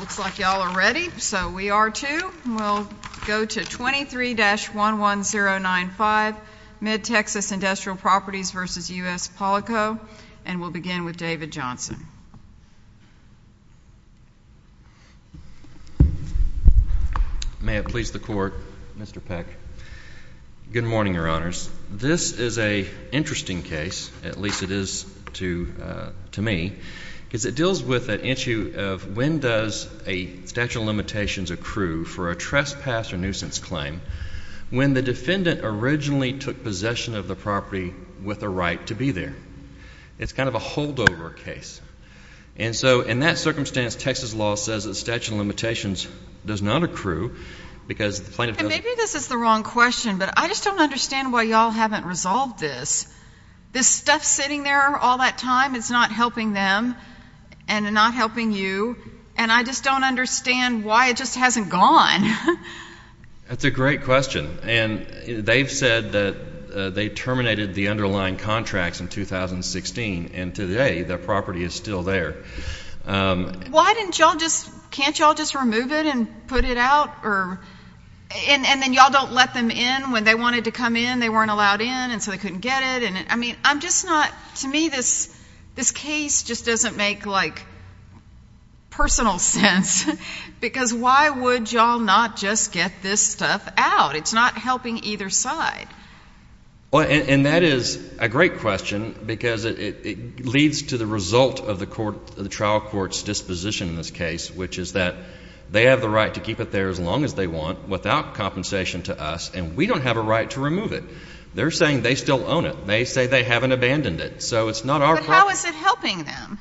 Looks like y'all are ready, so we are too. We'll go to 23-11095, MidTexas Industrial Properties v. U.S. Polyco, and we'll begin with David Johnson. May it please the Court, Mr. Peck. Good morning, Your Honors. This is an interesting case, at least it is to me, because it deals with an issue of when does a statute of limitations accrue for a trespass or nuisance claim when the defendant originally took possession of the property with a right to be there. It's kind of a holdover case. And so in that circumstance, Texas law says that statute of limitations does not accrue because the plaintiff doesn't And maybe this is the wrong question, but I just don't understand why y'all haven't resolved this. This stuff sitting there all that time, it's not helping them and not helping you, and I just don't understand why it just hasn't gone. That's a great question. And they've said that they terminated the underlying contracts in 2016, and today the property is still there. Why didn't y'all just, can't y'all just remove it and put it out? And then y'all don't let them in when they wanted to come in, they weren't allowed in, and so they couldn't get it. I mean, I'm just not, to me, this case just doesn't make, like, personal sense. Because why would y'all not just get this stuff out? It's not helping either side. And that is a great question, because it leads to the result of the trial court's disposition in this case, which is that they have the right to keep it there as long as they want without compensation to us, and we don't have a right to remove it. They're saying they still own it. They say they haven't abandoned it. So it's not our problem. But how is it helping them?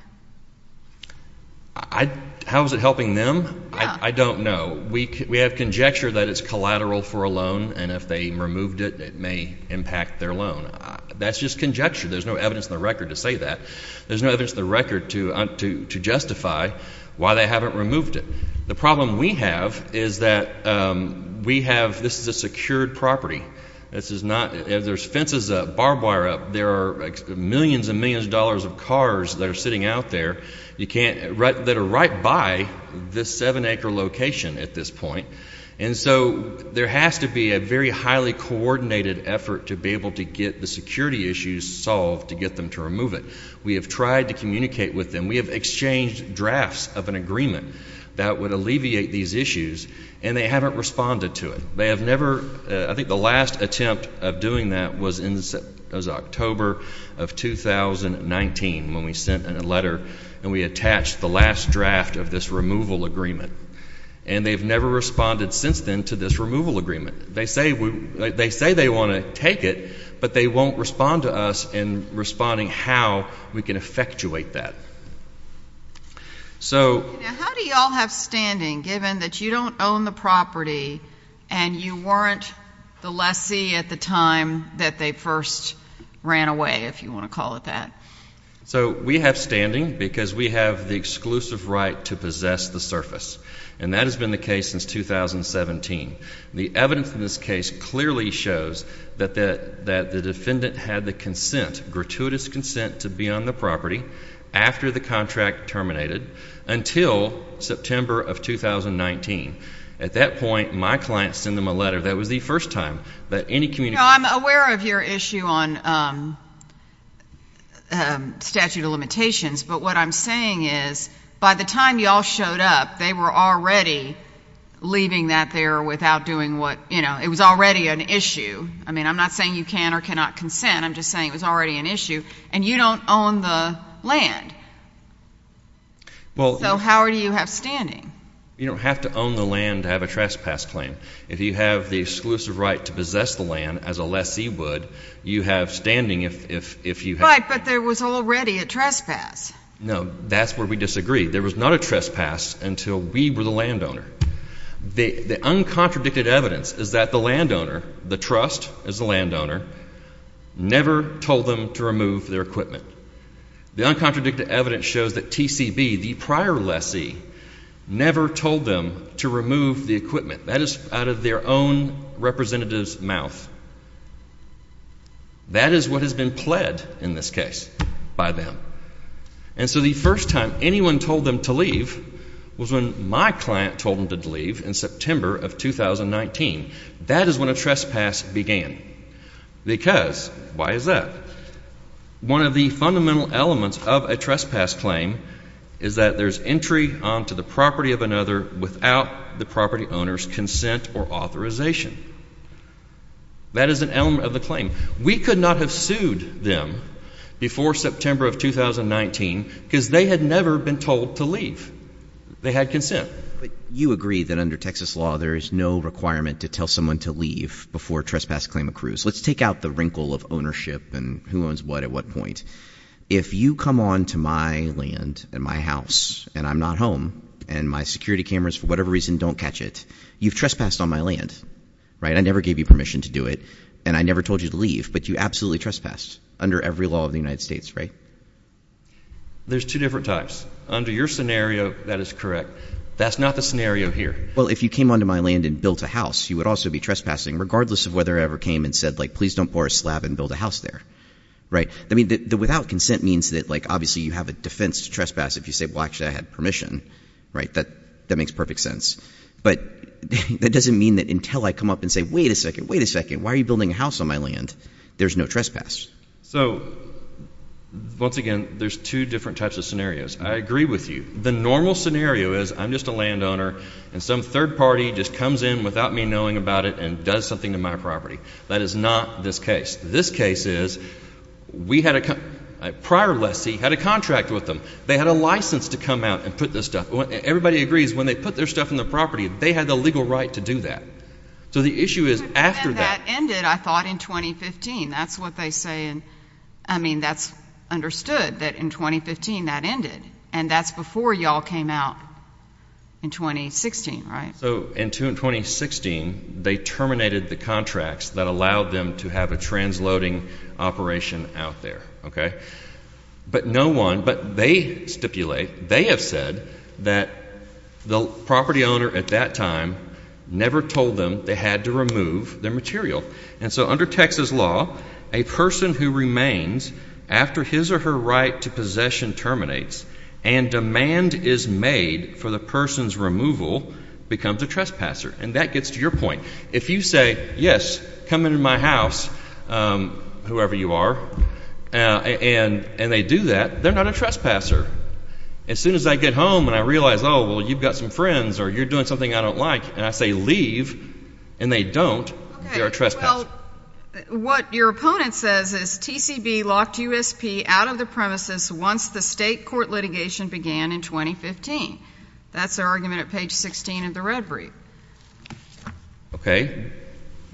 How is it helping them? I don't know. We have conjecture that it's collateral for a loan, and if they removed it, it may impact their loan. That's just conjecture. There's no evidence in the record to say that. There's no evidence in the record to justify why they haven't removed it. The problem we have is that we have, this is a secured property. This is not, there's fences up, barbed wire up. There are millions and millions of dollars of cars that are sitting out there that are right by this seven-acre location at this point. And so there has to be a very highly coordinated effort to be able to get the security issues solved to get them to remove it. We have tried to communicate with them. We have exchanged drafts of an agreement that would alleviate these issues, and they haven't responded to it. They have never, I think the last attempt of doing that was in, it was October of 2019 when we sent a letter and we attached the last draft of this removal agreement. And they've never responded since then to this removal agreement. They say we, they say they want to take it, but they won't respond to us in responding how we can effectuate that. So how do y'all have standing given that you don't own the property and you weren't the lessee at the time that they first ran away, if you want to call it that. So we have standing because we have the exclusive right to possess the surface. And that has been the case since 2017. The evidence in this case clearly shows that the defendant had the consent, gratuitous consent to be on the property after the contract terminated until September of 2019. At that point, my client sent them a letter. That was the first time that any communication No, I'm aware of your issue on statute of limitations, but what I'm saying is by the time y'all showed up, they were already leaving that there without doing what, you know, it was already an issue. I mean, I'm not saying you can or cannot consent. I'm just saying it was already an issue and you don't own the land. So how do you have standing? You don't have to own the land to have a trespass claim. If you have the exclusive right to possess the land as a lessee would, you have standing if you have Right, but there was already a trespass. No, that's where we disagree. There was not a trespass until we were the landowner. The equipment. The uncontradicted evidence shows that TCB, the prior lessee, never told them to remove the equipment. That is out of their own representative's mouth. That is what has been pled in this case by them. And so the first time anyone told them to leave was when my client told them to leave in September of 2019. That is when a trespass began. Because why is that? One of the fundamental elements of a trespass claim is that there's entry onto the property of another without the property owner's consent or authorization. That is an element of the claim. We could not have sued them before September of 2019 because they had never been told to leave. They had consent. You agree that under Texas law there is no requirement to tell someone to leave before a trespass claim accrues. Let's take out the wrinkle of ownership and who owns what at what point. If you come onto my land and my house and I'm not home and my security cameras for whatever reason don't catch it, you've trespassed on my land, right? I never gave you permission to do it and I never told you to leave, but you absolutely trespassed under every law of the United States, right? There's two different types. Under your scenario, that is correct. That's not the scenario here. Well, if you came onto my land and built a house, you would also be trespassing regardless of whether I ever came and said, like, please don't pour a slab and build a house there, right? I mean, the without consent means that, like, obviously you have a defense to trespass if you say, well, actually I had permission, right? That makes perfect sense. But that doesn't mean that until I come up and say, wait a second, wait a second, why are you building a house on my land? There's no trespass. So once again, there's two different types of scenarios. I agree with you. The normal scenario is I'm just a landowner and some third party just comes in without me knowing about it and does something to my property. That is not this case. This case is we had a prior lessee had a contract with them. They had a license to come out and put this stuff on. Everybody agrees when they put their stuff in the property, they had the legal right to do that. So the issue is after that. And that ended, I thought, in 2015. That's what they say. I mean, that's understood that in 2015 that ended. And that's before you all came out in 2016, right? So in 2016, they terminated the contracts that allowed them to have a transloading operation out there, okay? But no one, but they stipulate, they have said that the property owner at that time never told them they had to remove their material. And so under Texas law, a person who remains after his or her right to possession terminates and demand is made for the person's removal becomes a trespasser. And that gets to your point. If you say, yes, come into my house, whoever you are, and they do that, they're not a trespasser. As soon as I get home and I realize, oh, well, you've got some friends or you're doing something I don't like, and I say leave, and they don't, they're a trespasser. What your opponent says is TCB locked USP out of the premises once the state court litigation began in 2015. That's their argument at page 16 of the red brief. Okay.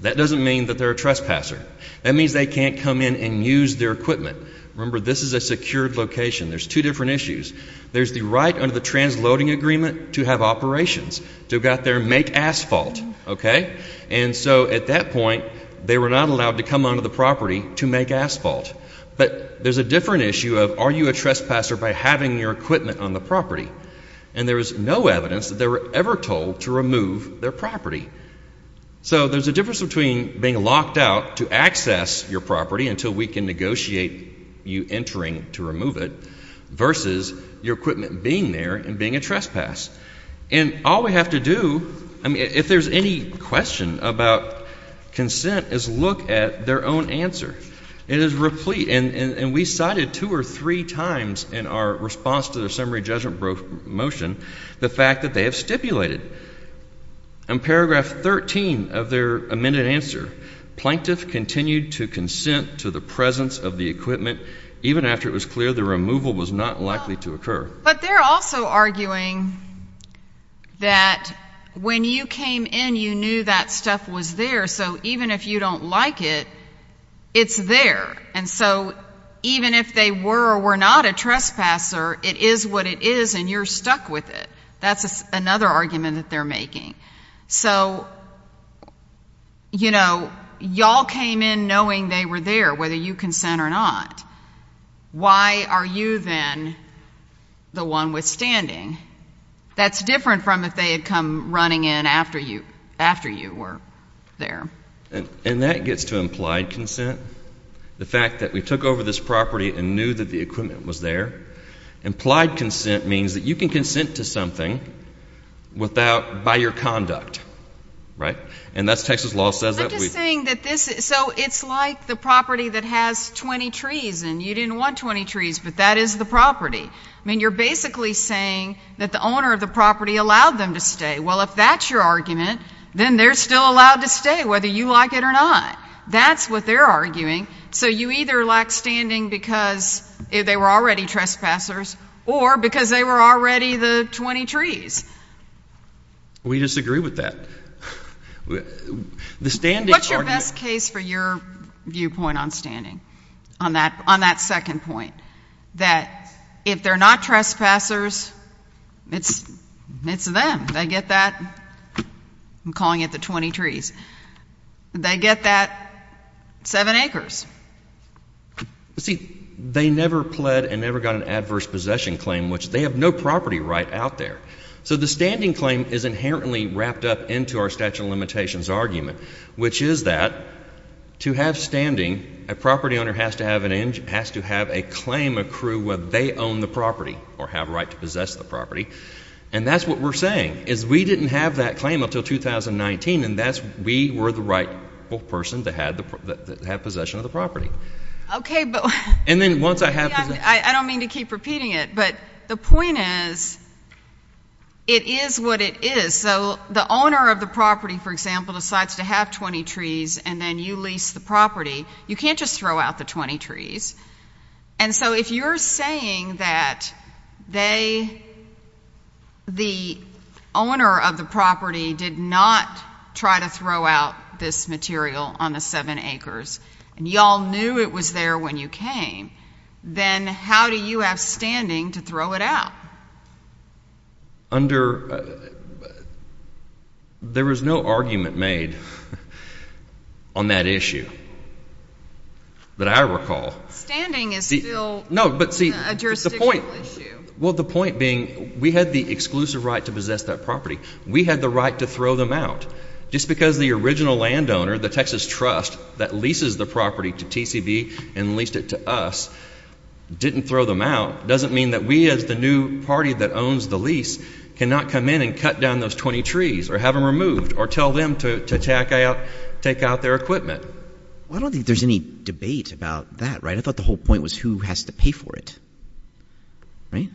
That doesn't mean that they're a trespasser. That means they can't come in and use their equipment. Remember, this is a secured location. There's two different issues. There's the right under the transloading agreement to have operations, to go out there and make asphalt, okay? And so at that point, they were not allowed to come onto the property to make asphalt. But there's a different issue of are you a trespasser by having your equipment, on the property? And there is no evidence that they were ever told to remove their property. So there's a difference between being locked out to access your property until we can negotiate you entering to remove it versus your equipment being there and being a trespass. And all we have to do, I mean, if there's any question about consent is look at their own answer. It is replete. And we cited two or three times in our response to the summary judgment motion the fact that they have stipulated in paragraph 13 of their amended answer. Plaintiff continued to consent to the presence of the equipment even after it was clear the removal was not likely to occur. But they're also arguing that when you came in, you knew that stuff was there. So even if you don't like it, it's there. And so even if they were or were not a trespasser, it is what it is and you're stuck with it. That's another argument that they're making. So, you know, y'all came in knowing they were there, whether you consent or not. Why are you then the one withstanding? That's different from if they had come running in after you were there. And that gets to implied consent. The fact that we took over this property and knew that the equipment was there. Implied consent means that you can consent to something without by your conduct. Right? And that's Texas law says that we I'm just saying that this is so it's like the property that has 20 trees and you didn't want 20 trees, but that is the property. I mean, you're basically saying that the owner of the property allowed them to stay. Well, if that's your argument, then they're still allowed to stay whether you like it or not. That's what they're arguing. So you either lack standing because they were already trespassers or because they were already the 20 trees. We disagree with that. What's your best case for your viewpoint on standing? On that second point that if they're not trespassers, it's them. They get that. I'm calling it the 20 trees. They get that seven acres. See, they never pled and never got an adverse possession claim, which they have no property right out there. So the standing claim is inherently wrapped up into our statute of limitations argument, which is that to have standing, a property owner has to have an has to have a claim accrue whether they own the property or have a right to possess the property. And that's what we're saying is we didn't have that claim until 2019, and that's we were the right person to have possession of the property. Okay, but... And then once I have... I don't mean to keep repeating it, but the point is it is what it is. So the owner of the property, for example, decides to have 20 trees and then you lease the property. You can't just throw out the 20 trees. And if the owner of the property did not try to throw out this material on the seven acres and y'all knew it was there when you came, then how do you have standing to throw it out? Under... There was no argument made on that issue that I recall. Standing is still a jurisdictional issue. No, but see, the point... Well, the point being we had the exclusive right to possess that property. We had the right to throw them out. Just because the original landowner, the Texas Trust that leases the property to TCB and leased it to us didn't throw them out doesn't mean that we as the new party that owns the lease cannot come in and cut down those 20 trees or have them removed or tell them to take out their equipment. Well, I don't think there's any debate about that, right? I thought the whole point was who has to pay for it, right?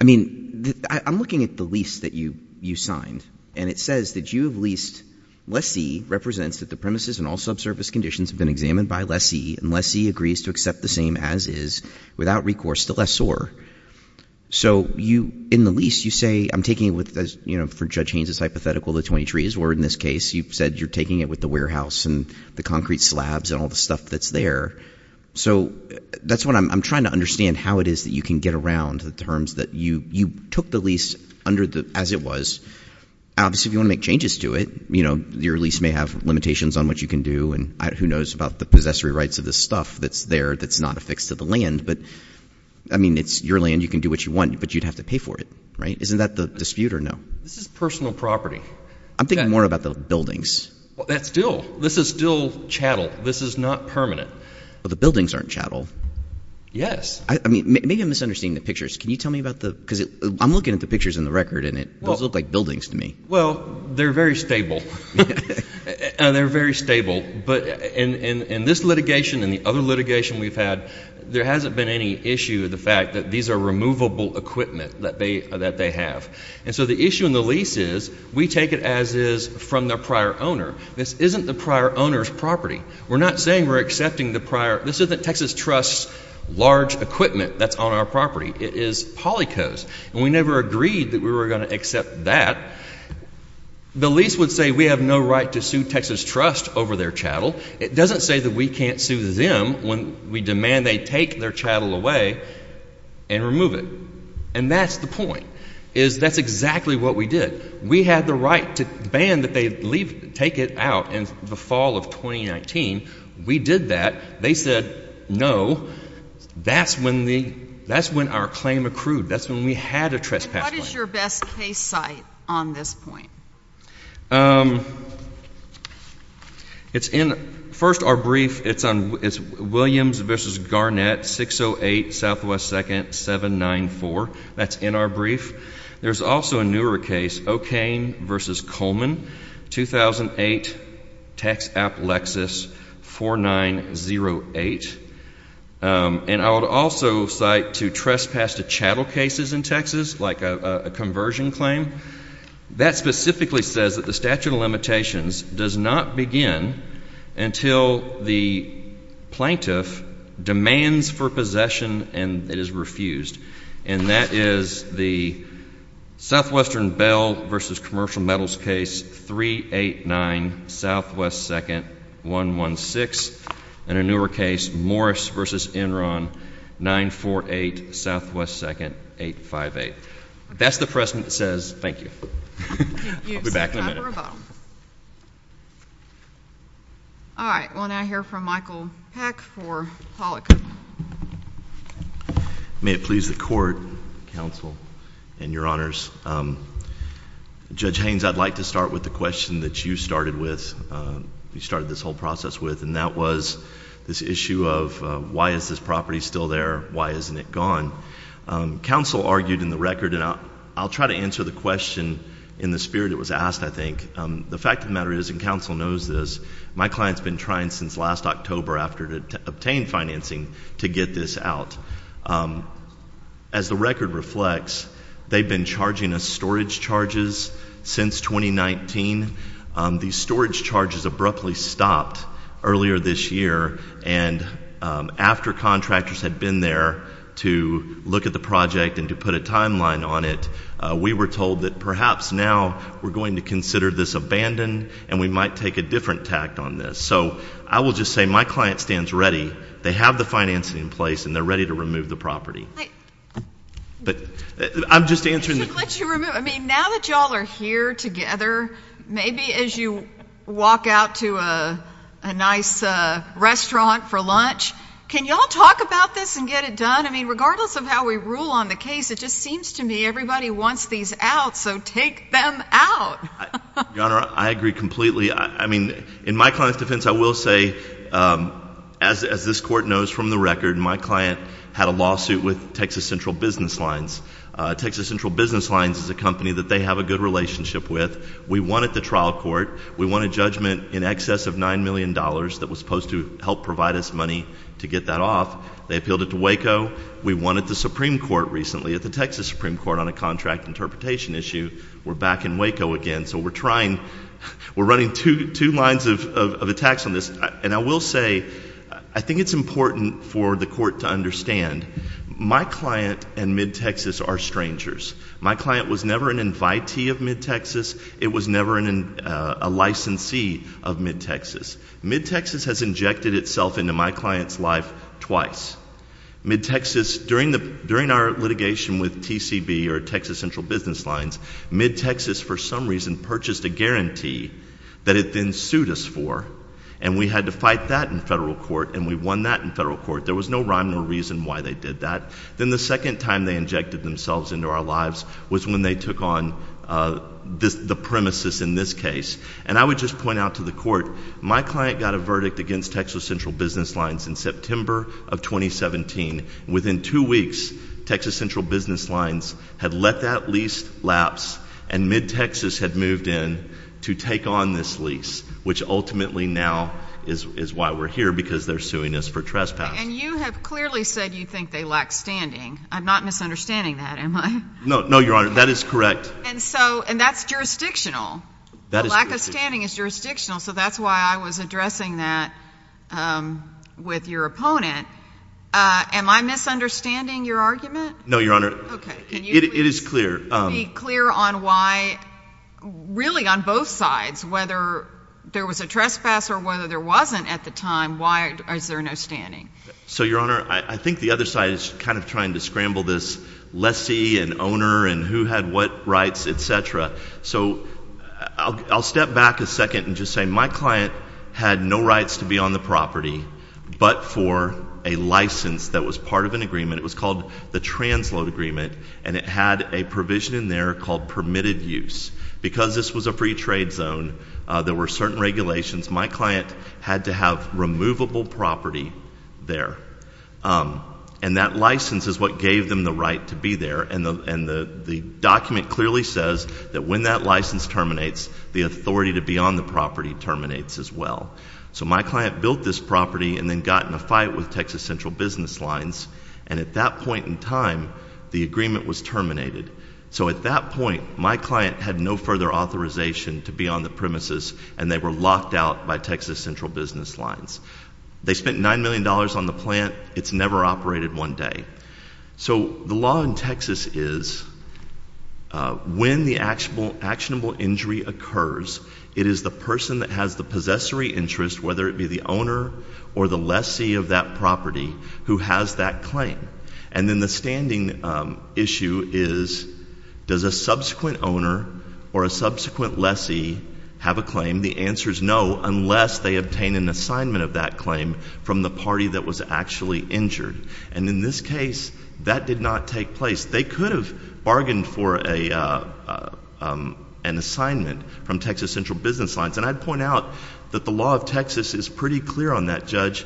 I mean, I'm looking at the lease that you signed, and it says that you have leased lessee represents that the premises and all subsurface conditions have been examined by lessee and lessee agrees to accept the same as is without recourse to lessor. So you, in the lease, you say I'm taking it with, you know, for Judge Haynes' hypothetical, the 20 trees, or in this case, you've said you're taking it with the warehouse and the concrete slabs and all the stuff that's there. So that's what I'm trying to understand how it is that you can get around the terms that you took the lease under the, as it was. Obviously, if you want to make changes to it, you know, your lease may have limitations on what you can do. And who knows about the possessory rights of this stuff that's there that's not affixed to the land. But I mean, it's your land. You can do what you want, but you'd have to pay for it, right? Isn't that the dispute or no? This is personal property. I'm thinking more about the buildings. Well, that's still, this is still chattel. This is not permanent. But the buildings aren't chattel. Yes. I mean, maybe I'm misunderstanding the pictures. Can you tell me about the, because I'm looking at the pictures in the record and it does look like buildings to me. Well, they're very stable. And they're very stable. But in this litigation and the other litigation we've had, there hasn't been any issue with the fact that these are removable equipment that they have. And so the issue in the lease is we take it as is from their prior owner. This isn't the prior owner's property. We're not saying we're accepting the prior, this isn't Texas Trust's large equipment that's on our property. It is Polyco's. And we never agreed that we were going to accept that. The lease would say we have no right to sue Texas Trust over their chattel. It doesn't say that we can't sue them when we demand they take their chattel away and remove it. And that's the point, is that's exactly what we did. We had the right to ban that they leave, take it out in the fall of 2019. We did that. They said no. That's when the, that's when our claim accrued. That's when we had a trespass claim. What is your best case site on this point? It's in, first our brief, it's on, it's Williams v. Garnett, 608 Southwest 2nd, 794. That's in our brief. There's also a newer case, O'Kane v. Coleman, 2008, Texaplexus 4908. And I would also cite to trespass to chattel cases in Texas, like a conversion claim. That specifically says that the statute of limitations does not begin until the plaintiff demands for possession and it is refused. And that is the Southwestern Bell v. Commercial Metals case 389 Southwest 2nd, 116. And a newer case, Morris v. Enron, 948 Southwest 2nd, 858. That's the precedent that says thank you. I'll be back in a minute. All right. Well, now I hear from Michael Peck for Pollack. May it please the court, counsel, and your honors. Judge Haynes, I'd like to start with the question that you started with, you started this whole process with, and that was this issue of why is this property still there? Why isn't it gone? Counsel argued in the record and I'll try to answer the question in the spirit it was asked, I think. The fact of the matter is, and counsel knows this, my client's been trying since last October after to obtain financing to get this out. As the record reflects, they've been charging us storage charges since 2019. These storage charges abruptly stopped earlier this year and after contractors had been there to look at the project and to put a timeline on it, we were told that perhaps now we're going to consider this abandoned and we might take a different tact on this. So I will just say my client stands ready. They have the financing in place and they're ready to remove the property. I should let you remove it. I mean, now that you all are here together, maybe as you walk out to a nice restaurant for lunch, can you all talk about this and get it done? I mean, regardless of how we rule on the case, it just seems to me everybody wants these out, so take them out. Your Honor, I agree completely. I mean, in my client's defense, I will say, as this court knows from the record, my client had a lawsuit with Texas Central Business Lines. Texas Central Business Lines is a company that they have a good relationship with. We won at the trial court. We won a judgment in excess of $9 million that was supposed to help provide us money to get that off. They appealed it to Waco. We won at the Supreme Court recently, at the Texas Supreme Court on a contract interpretation issue. We're back in Waco again, so we're trying, we're running two lines of attacks on this. And I will say, I think it's important for the court to understand, my client and Mid-Texas are strangers. My client was never an invitee of Mid-Texas. It was never a licensee of Mid-Texas. Mid-Texas has injected itself into my client's life twice. Mid-Texas, during our litigation with TCB, or Texas Central Business Lines, Mid-Texas for some reason purchased a guarantee that it then sued us for, and we had to fight that in federal court, and we won that in federal court. There was no rhyme or reason why they did that. Then the second time they injected themselves into our lives was when they took on the premises in this case. And I would just point out to the court, my client got a verdict against Texas Central Business Lines in September of 2017. Within two weeks, Texas Central Business Lines had let that lease lapse, and Mid-Texas had moved in to take on this lease, which ultimately now is why we're here, because they're suing us for trespass. And you have clearly said you think they lack standing. I'm not misunderstanding that, am I? No, no, Your Honor. That is correct. And so, and that's jurisdictional. The lack of standing is jurisdictional, so that's why I was addressing that with your opponent. Am I misunderstanding your argument? No, Your Honor. It is clear. Can you be clear on why, really on both sides, whether there was a trespass or whether there wasn't at the time, why is there no standing? So Your Honor, I think the other side is kind of trying to scramble this lessee and owner and who had what rights, etc. So I'll step back a second and just say my client had no rights to be on the property but for a license that was part of an agreement. It was called the Transload Agreement, and it had a provision in there called permitted use. Because this was a free trade zone, there were certain regulations. My client had to have removable property there. And that license is what gave them the right to be there, and the document clearly says that when that license terminates, the authority to be on the property terminates as well. So my client built this property and then got in a fight with Texas Central Business Lines, and at that point in time, the agreement was terminated. So at that point, my client had no further authorization to be on the premises, and they were locked out by Texas Central Business Lines. They spent $9 million on the plant. It's never operated one day. So the law in Texas is when the actionable injury occurs, it is the person that has the possessory interest, whether it be the owner or the lessee of that property, who has that claim. And then the standing issue is, does a subsequent owner or a subsequent lessee have a claim? The answer is no, unless they obtain an assignment of that claim from the party that was actually injured. And in this case, that did not take place. They could have bargained for an assignment from Texas Central Business Lines. And I'd point out that the law of Texas is pretty clear on that, Judge.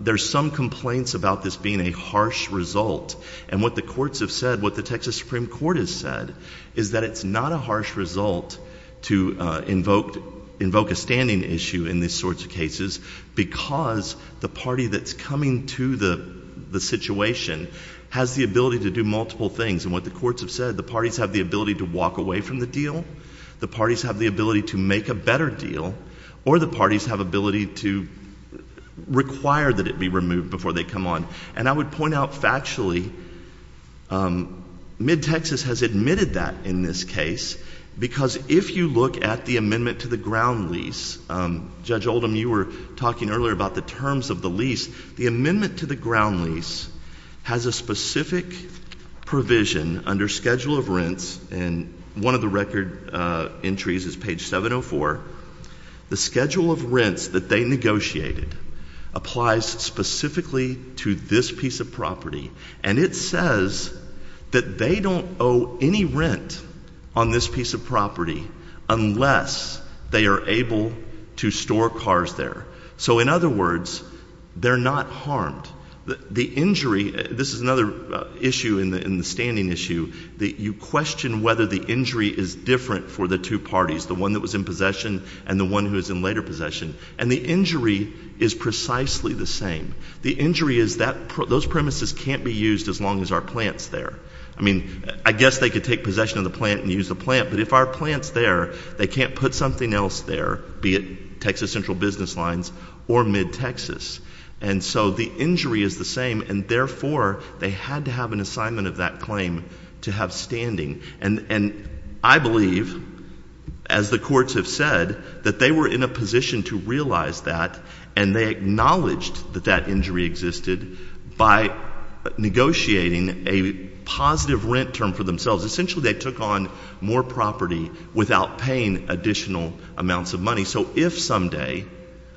There's some complaints about this being a harsh result. And what the courts have said, what the Texas Supreme Court has said is that it's not a harsh result to invoke a standing issue in these sorts of cases because the party that's coming to the situation has the ability to do multiple things. And what the courts have said, the parties have the ability to walk away from the deal, the parties have the ability to make a better deal, or the parties have ability to require that it be removed before they come on. And I would point out factually, MidTexas has admitted that in this case, because if you look at the amendment to the ground lease, Judge Oldham, you were talking earlier about the terms of the lease. The amendment to the ground lease has a specific provision under schedule of rents, and one of the record entries is page 704. The schedule of rents that they negotiated applies specifically to this piece of property, and it says that they don't owe any rent on this piece of property unless they are able to store cars there. So in other words, they're not harmed. The injury, this is another issue in the standing issue, that you question whether the injury is different for the two parties, the one that was in possession and the one who is in later possession. And the injury is precisely the same. The injury is that those premises can't be used as long as our plant's there. I mean, I guess they could take possession of the plant and use the plant, but if our plant's there, they can't put something else there, be it Texas Central Business Lines or MidTexas. And so the injury is the same, and therefore, they had to have an assignment of that claim to have standing. And I believe, as the courts have said, that they were in a position to realize that, and they acknowledged that that injury existed by negotiating a positive rent term for themselves. Essentially, they took on more property without paying additional amounts of money. So if someday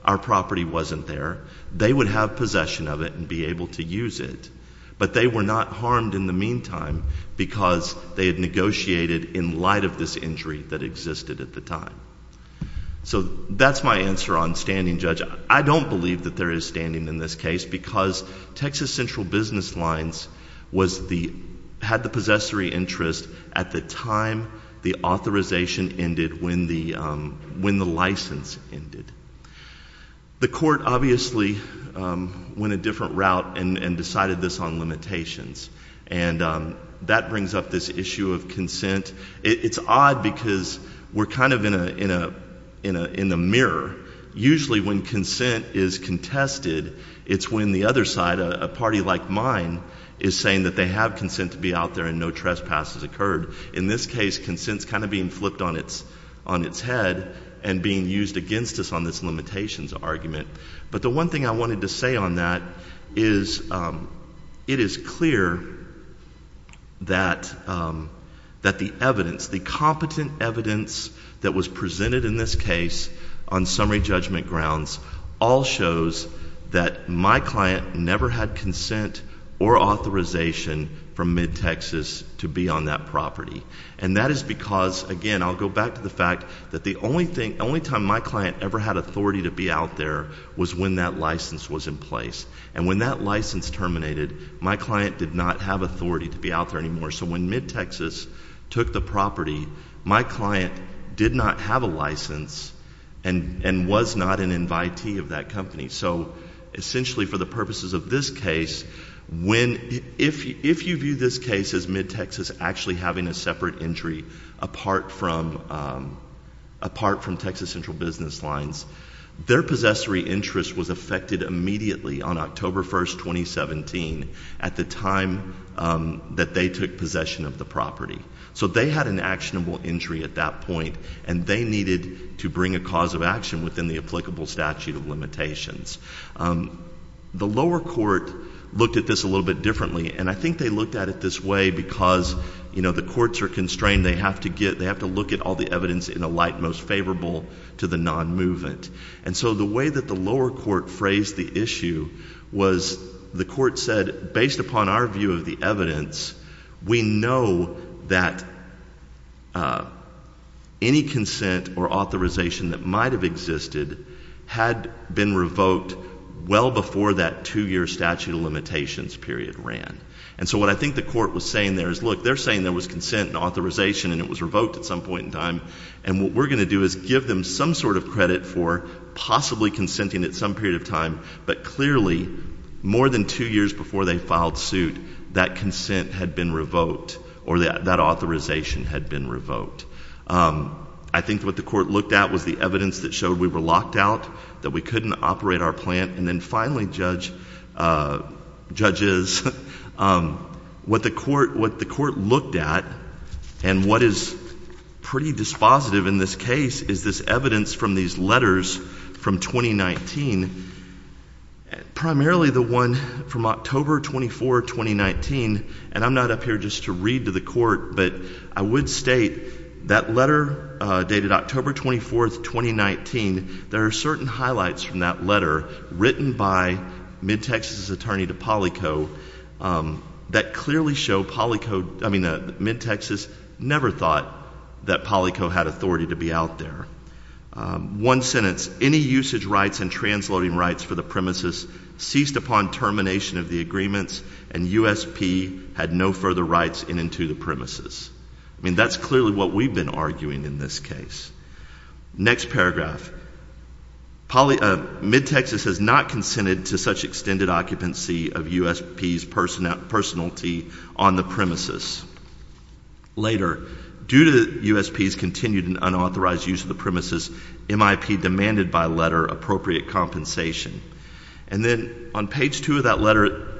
our property wasn't there, they would have possession of it and be able to use it. But they were not harmed in the meantime because they had negotiated in light of this injury that existed at the time. So that's my answer on standing, Judge. I don't believe that there is standing in this case because Texas Central Business Lines was the, had the possessory interest at the time the authorization ended when the license ended. The court obviously went a different route and decided this on limitations. And that brings up this issue of consent. It's odd because we're kind of in a mirror. Usually when consent is contested, it's when the other side, a party like mine, is saying that they have consent to be out there and no trespasses occurred. In this case, consent is kind of being flipped on its head and being used against us on this limitations argument. But the one thing I wanted to say on that is it is clear that the evidence, the competent evidence that was presented in this case on summary judgment grounds all shows that my client never had consent or authorization from MidTexas to be on that property. And that is because, again, I'll go back to the fact that the only thing, the only time my client ever had authority to be out there was when that license was in place. And when that license terminated, my client did not have authority to be out there anymore. So when MidTexas took the property, my client did not have a license and was not an invitee of that company. So essentially for the purposes of this case, when, if you view this case as MidTexas actually having a separate entry apart from Texas Central Business Lines, their possessory interest was affected immediately on October 1, 2017 at the time that they took possession of the property. So they had an actionable entry at that point, and they needed to bring a cause of action within the applicable statute of limitations. The lower court looked at this a little bit differently, and I think they looked at it this way because, you know, the courts are constrained. They have to get, they have to look at all the evidence in a light most favorable to the non-movement. And so the way that the lower court phrased the issue was the court said, based upon our view of the evidence, we know that any consent or authorization that might have existed had been revoked well before that two-year statute of limitations period ran. And so what I think the court was saying there is, look, they're saying there was consent and authorization and it was revoked at some point in time, and what we're going to do is give them some sort of credit for possibly consenting at some period of time, but clearly more than two years before they filed suit, that consent had been revoked or that authorization had been revoked. I think what the court looked at was the evidence that showed we were locked out, that we couldn't operate our plant, and then finally, judges, what the court looked at and what is pretty dispositive in this case is this evidence from these letters from 2019, primarily the one from October 24, 2019, and I'm not up here just to read to the court, but I would state that letter dated October 24, 2019, there are certain highlights from that letter written by MidTexas' attorney to PolyCo that clearly show PolyCo, I mean, MidTexas never thought that PolyCo had authority to be out there. One sentence, any usage rights and transloading rights for the premises ceased upon termination of the agreements and USP had no further rights in and to the premises. I mean, that's clearly what we've been arguing in this case. Next paragraph, MidTexas has not consented to such extended occupancy of USP's personality on the premises. Later, due to USP's continued and unauthorized use of the premises, MIP demanded by letter appropriate compensation. And then on page two of that report,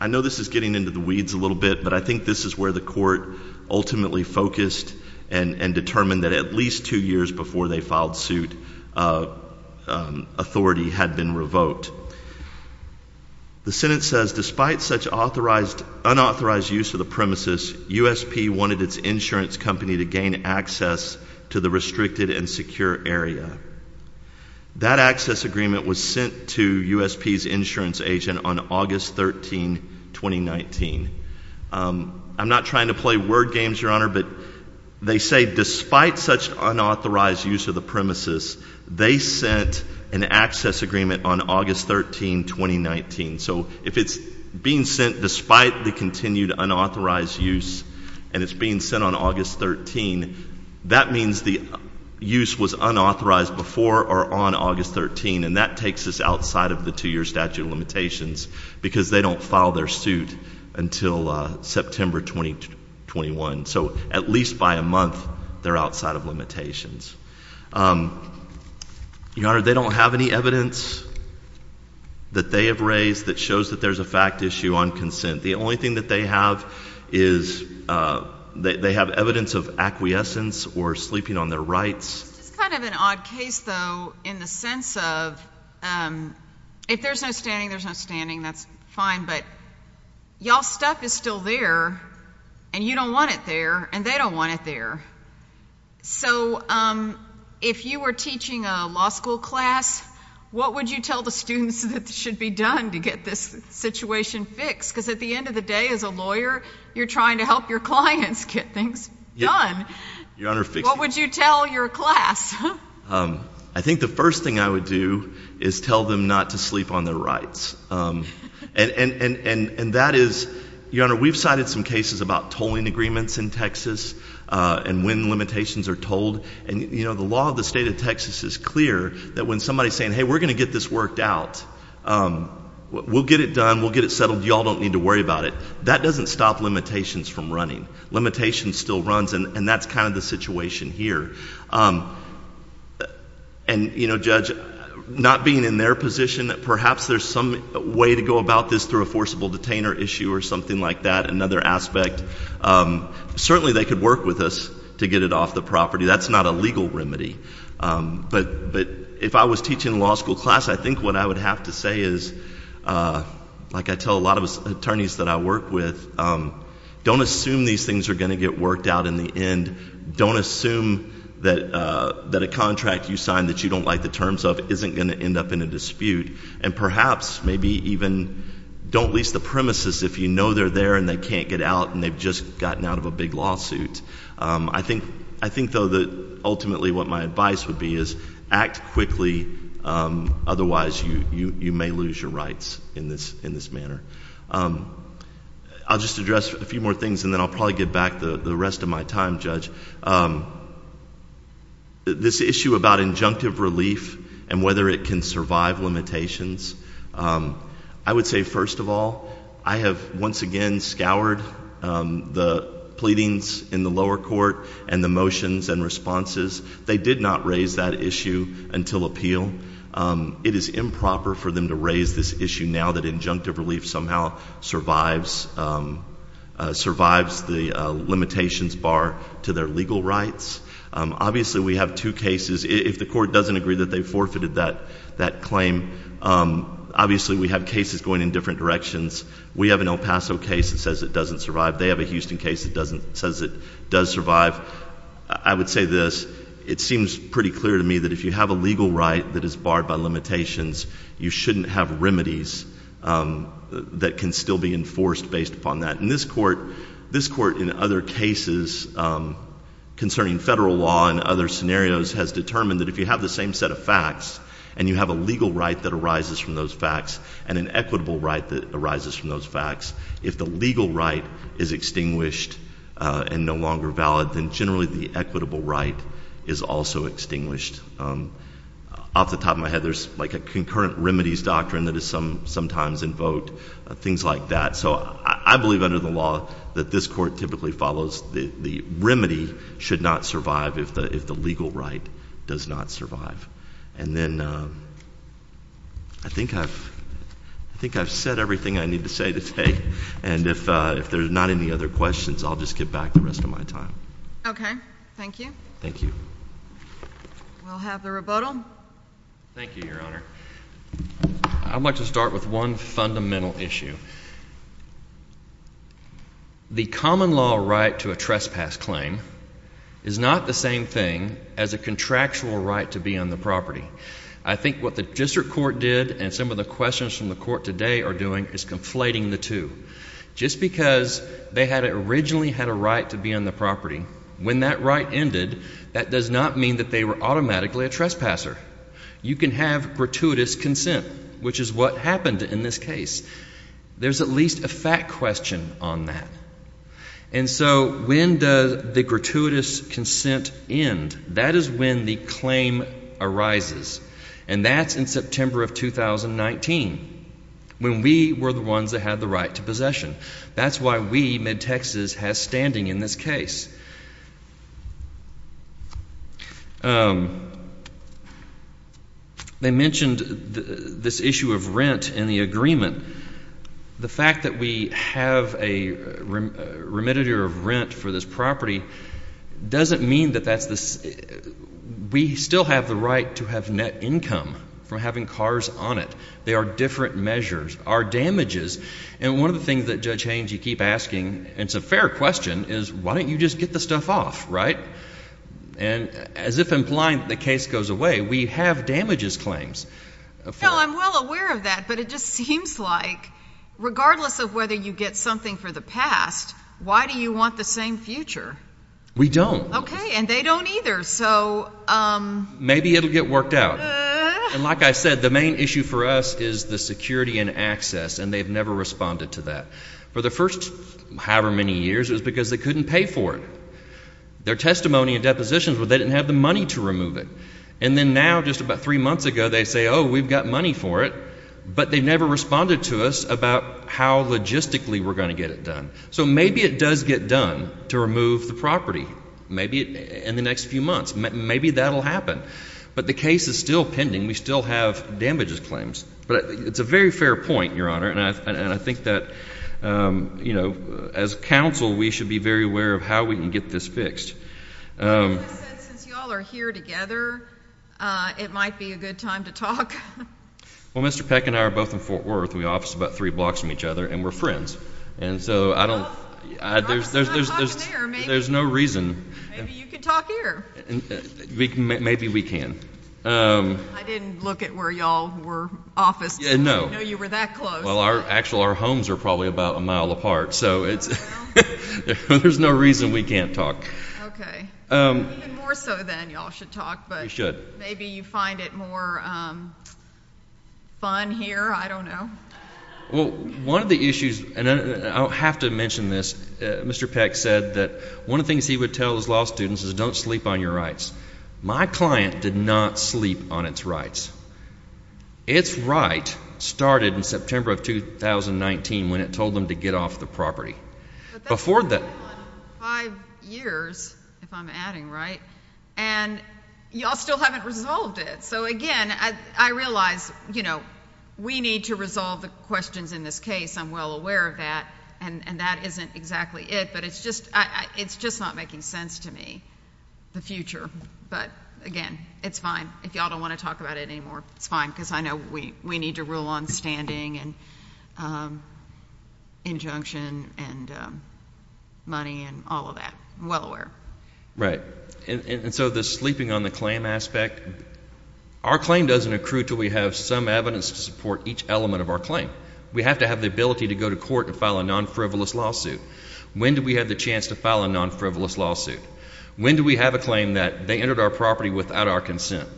I know this is getting into the weeds a little bit, but I think this is where the court ultimately focused and determined that at least two years before they filed suit, authority had been revoked. The sentence says, despite such unauthorized use of the premises, USP wanted its insurance company to gain access to the restricted and secure area. That access agreement was sent to USP's insurance agent on August 13, 2019. I'm not trying to play word games, Your Honor, but they say despite such unauthorized use of the premises, they sent an access agreement on August 13, 2019. So if it's being sent despite the continued unauthorized use and it's being sent on August 13, that means the use was unauthorized before or on August 13, and that takes us outside of the two-year statute of limitations because they don't file their suit until September 2021. So at least by a month, they're outside of limitations. Your Honor, they don't have any evidence that they have raised that shows that there's a fact issue on consent. The only thing that they have is they have evidence of acquiescence or sleeping on their rights. It's kind of an odd case, though, in the sense of if there's no standing, there's no standing. That's fine, but y'all's stuff is still there and you don't want it there and they don't want it there. So if you were teaching a law school class, what would you tell the students that should be done to get this situation fixed? Because at the end of the day, as a lawyer, you're trying to help your clients get things done. What would you tell your class? I think the first thing I would do is tell them not to sleep on their rights. And that is, Your Honor, we've cited some cases about tolling agreements in Texas and when limitations are tolled. And, you know, the law of the state of Texas is clear that when somebody's saying, hey, we're going to get this worked out, we'll get it done, we'll get it settled, y'all don't need to worry about it. That doesn't stop limitations from running. Limitation still runs and that's kind of the situation here. And, you know, Judge, not being in their position, perhaps there's some way to go about this through a forcible detainer issue or something like that, another aspect. Certainly they could work with us to get it off the property. That's not a legal remedy. But if I was teaching a law school class, I think what I would have to say is, like I tell a lot of attorneys that I work with, don't assume these things are going to get worked out in the end. Don't assume that a contract you signed that you don't like the terms of isn't going to end up in a dispute. And perhaps maybe even don't lease the premises if you know they're there and they can't get out and they've just gotten out of a big lawsuit. I think, though, that ultimately what my advice would be is act quickly. Otherwise, you may lose your rights in this manner. I'll just address a few more things and then I'll probably get back the rest of my time, Judge. This issue about injunctive relief and whether it can survive limitations, I would say, first of all, I have once again scoured the pleadings in the lower court and the motions and responses. They did not raise that issue until appeal. It is improper for them to raise this issue now that injunctive relief somehow survives the limitations bar to their legal rights. Obviously, we have two cases. If the court doesn't agree that they forfeited that claim, obviously we have cases going in different directions. We have an El Paso case that says it doesn't survive. They have a Houston case that says it does survive. I would say this. It seems pretty clear to me that if you have a legal right that is barred by limitations, you shouldn't have remedies that can still be enforced based upon that. In this court, this court in other cases concerning federal law and other scenarios has determined that if you have the same set of facts and you have a legal right that arises from those facts and an equitable right that arises from those facts, if the legal right is extinguished and no longer valid, then generally the equitable right is also extinguished. Off the top of my head, there's like a concurrent remedies doctrine that is sometimes invoked, things like that. So I believe under the law that this court typically follows the remedy should not survive if the legal right does not survive. And then I think I've said everything I need to say today. And if there's not any other questions, I'll just get back the rest of my time. Okay. Thank you. Thank you. We'll have the rebuttal. Thank you, Your Honor. I'd like to start with one fundamental issue. The common law right to a trespass claim is not the same thing as a contractual right to be on the property. I think what the district court did and some of the questions from the court today are conflating the two. Just because they had originally had a right to be on the property, when that right ended, that does not mean that they were automatically a trespasser. You can have gratuitous consent, which is what happened in this case. There's at least a fact question on that. And so when does the gratuitous consent end? That is when the claim arises. And that's in September of 2019, when we were the ones that had the right to possession. That's why we, MidTexas, has standing in this case. They mentioned this issue of rent in the agreement. The fact that we have a remitter of rent for this property doesn't mean that we still have the right to have net income from having cars on it. They are different measures, are damages. And one of the things that, Judge Haynes, you keep asking, and it's a fair question, is why don't you just get the stuff off, right? And as if implying that the case goes away, we have damages claims. No, I'm well aware of that, but it just seems like, regardless of whether you get something for the past, why do you want the same future? We don't. Okay. And they don't either. So... Maybe it'll get worked out. And like I said, the main issue for us is the security and access, and they've never responded to that. For the first however many years, it was because they couldn't pay for it. Their testimony and depositions, they didn't have the money to remove it. And then now, just about three months ago, they say, oh, we've got money for it, but they never responded to us about how logistically we're going to get it done. So maybe it does get done to remove the property. Maybe in the next few months. Maybe that'll happen. But the case is still pending. We still have damages claims. But it's a very fair point, Your Honor, and I think that, you know, as counsel, we should be very aware of how we can get this fixed. Well, as I said, since y'all are here together, it might be a good time to talk. Well, Mr. Peck and I are both in Fort Worth. We office about three blocks from each other, and we're friends. And so I don't... Well, I'm just not talking to you. There's no reason... Maybe you can talk here. Maybe we can. I didn't look at where y'all were officed. Yeah, no. I didn't know you were that close. Well, actually, our homes are probably about a mile apart, so there's no reason we can't talk. Okay. Even more so, then, y'all should talk. We should. Maybe you find it more fun here. I don't know. Well, one of the issues, and I'll have to mention this, Mr. Peck said that one of the things he would tell his law students is don't sleep on your rights. My client did not sleep on its rights. Its right started in September of 2019 when it told them to get off the property. Five years, if I'm adding right, and y'all still haven't resolved it. So again, I realize we need to resolve the questions in this case. I'm well aware of that, and that isn't exactly it. But it's just not making sense to me, the future. But again, it's fine. If y'all don't want to talk about it anymore, it's fine, because I know we need to rule on standing and injunction and money and all of that. I'm well aware. Right. And so the sleeping on the claim aspect, our claim doesn't accrue until we have some evidence to support each element of our claim. We have to have the ability to go to court and file a non-frivolous lawsuit. When do we have the chance to file a non-frivolous lawsuit? When do we have a claim that they entered our property without our consent?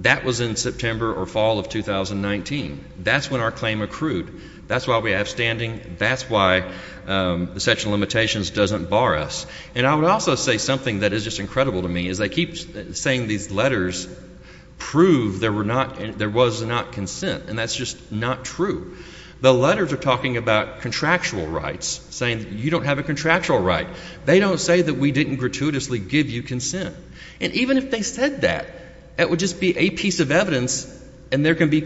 That was in September or fall of 2019. That's when our claim accrued. That's why we have standing. That's why the section of limitations doesn't bar us. And I would also say something that is just incredible to me, is they keep saying these letters prove there was not consent, and that's just not true. The letters are talking about contractual rights, saying you don't have a contractual right. They don't say that we didn't gratuitously give you consent. And even if they said that, that would just be a piece of evidence, and there can be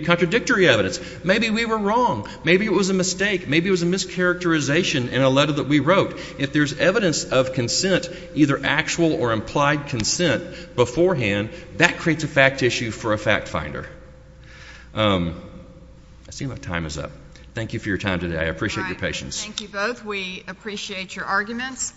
contradictory evidence. Maybe we were wrong. Maybe it was a mistake. Maybe it was a mischaracterization in a letter that we wrote. If there's evidence of consent, either actual or implied consent beforehand, that creates a fact issue for a fact finder. I see my time is up. Thank you for your time today. I appreciate your patience. Thank you both. We appreciate your arguments.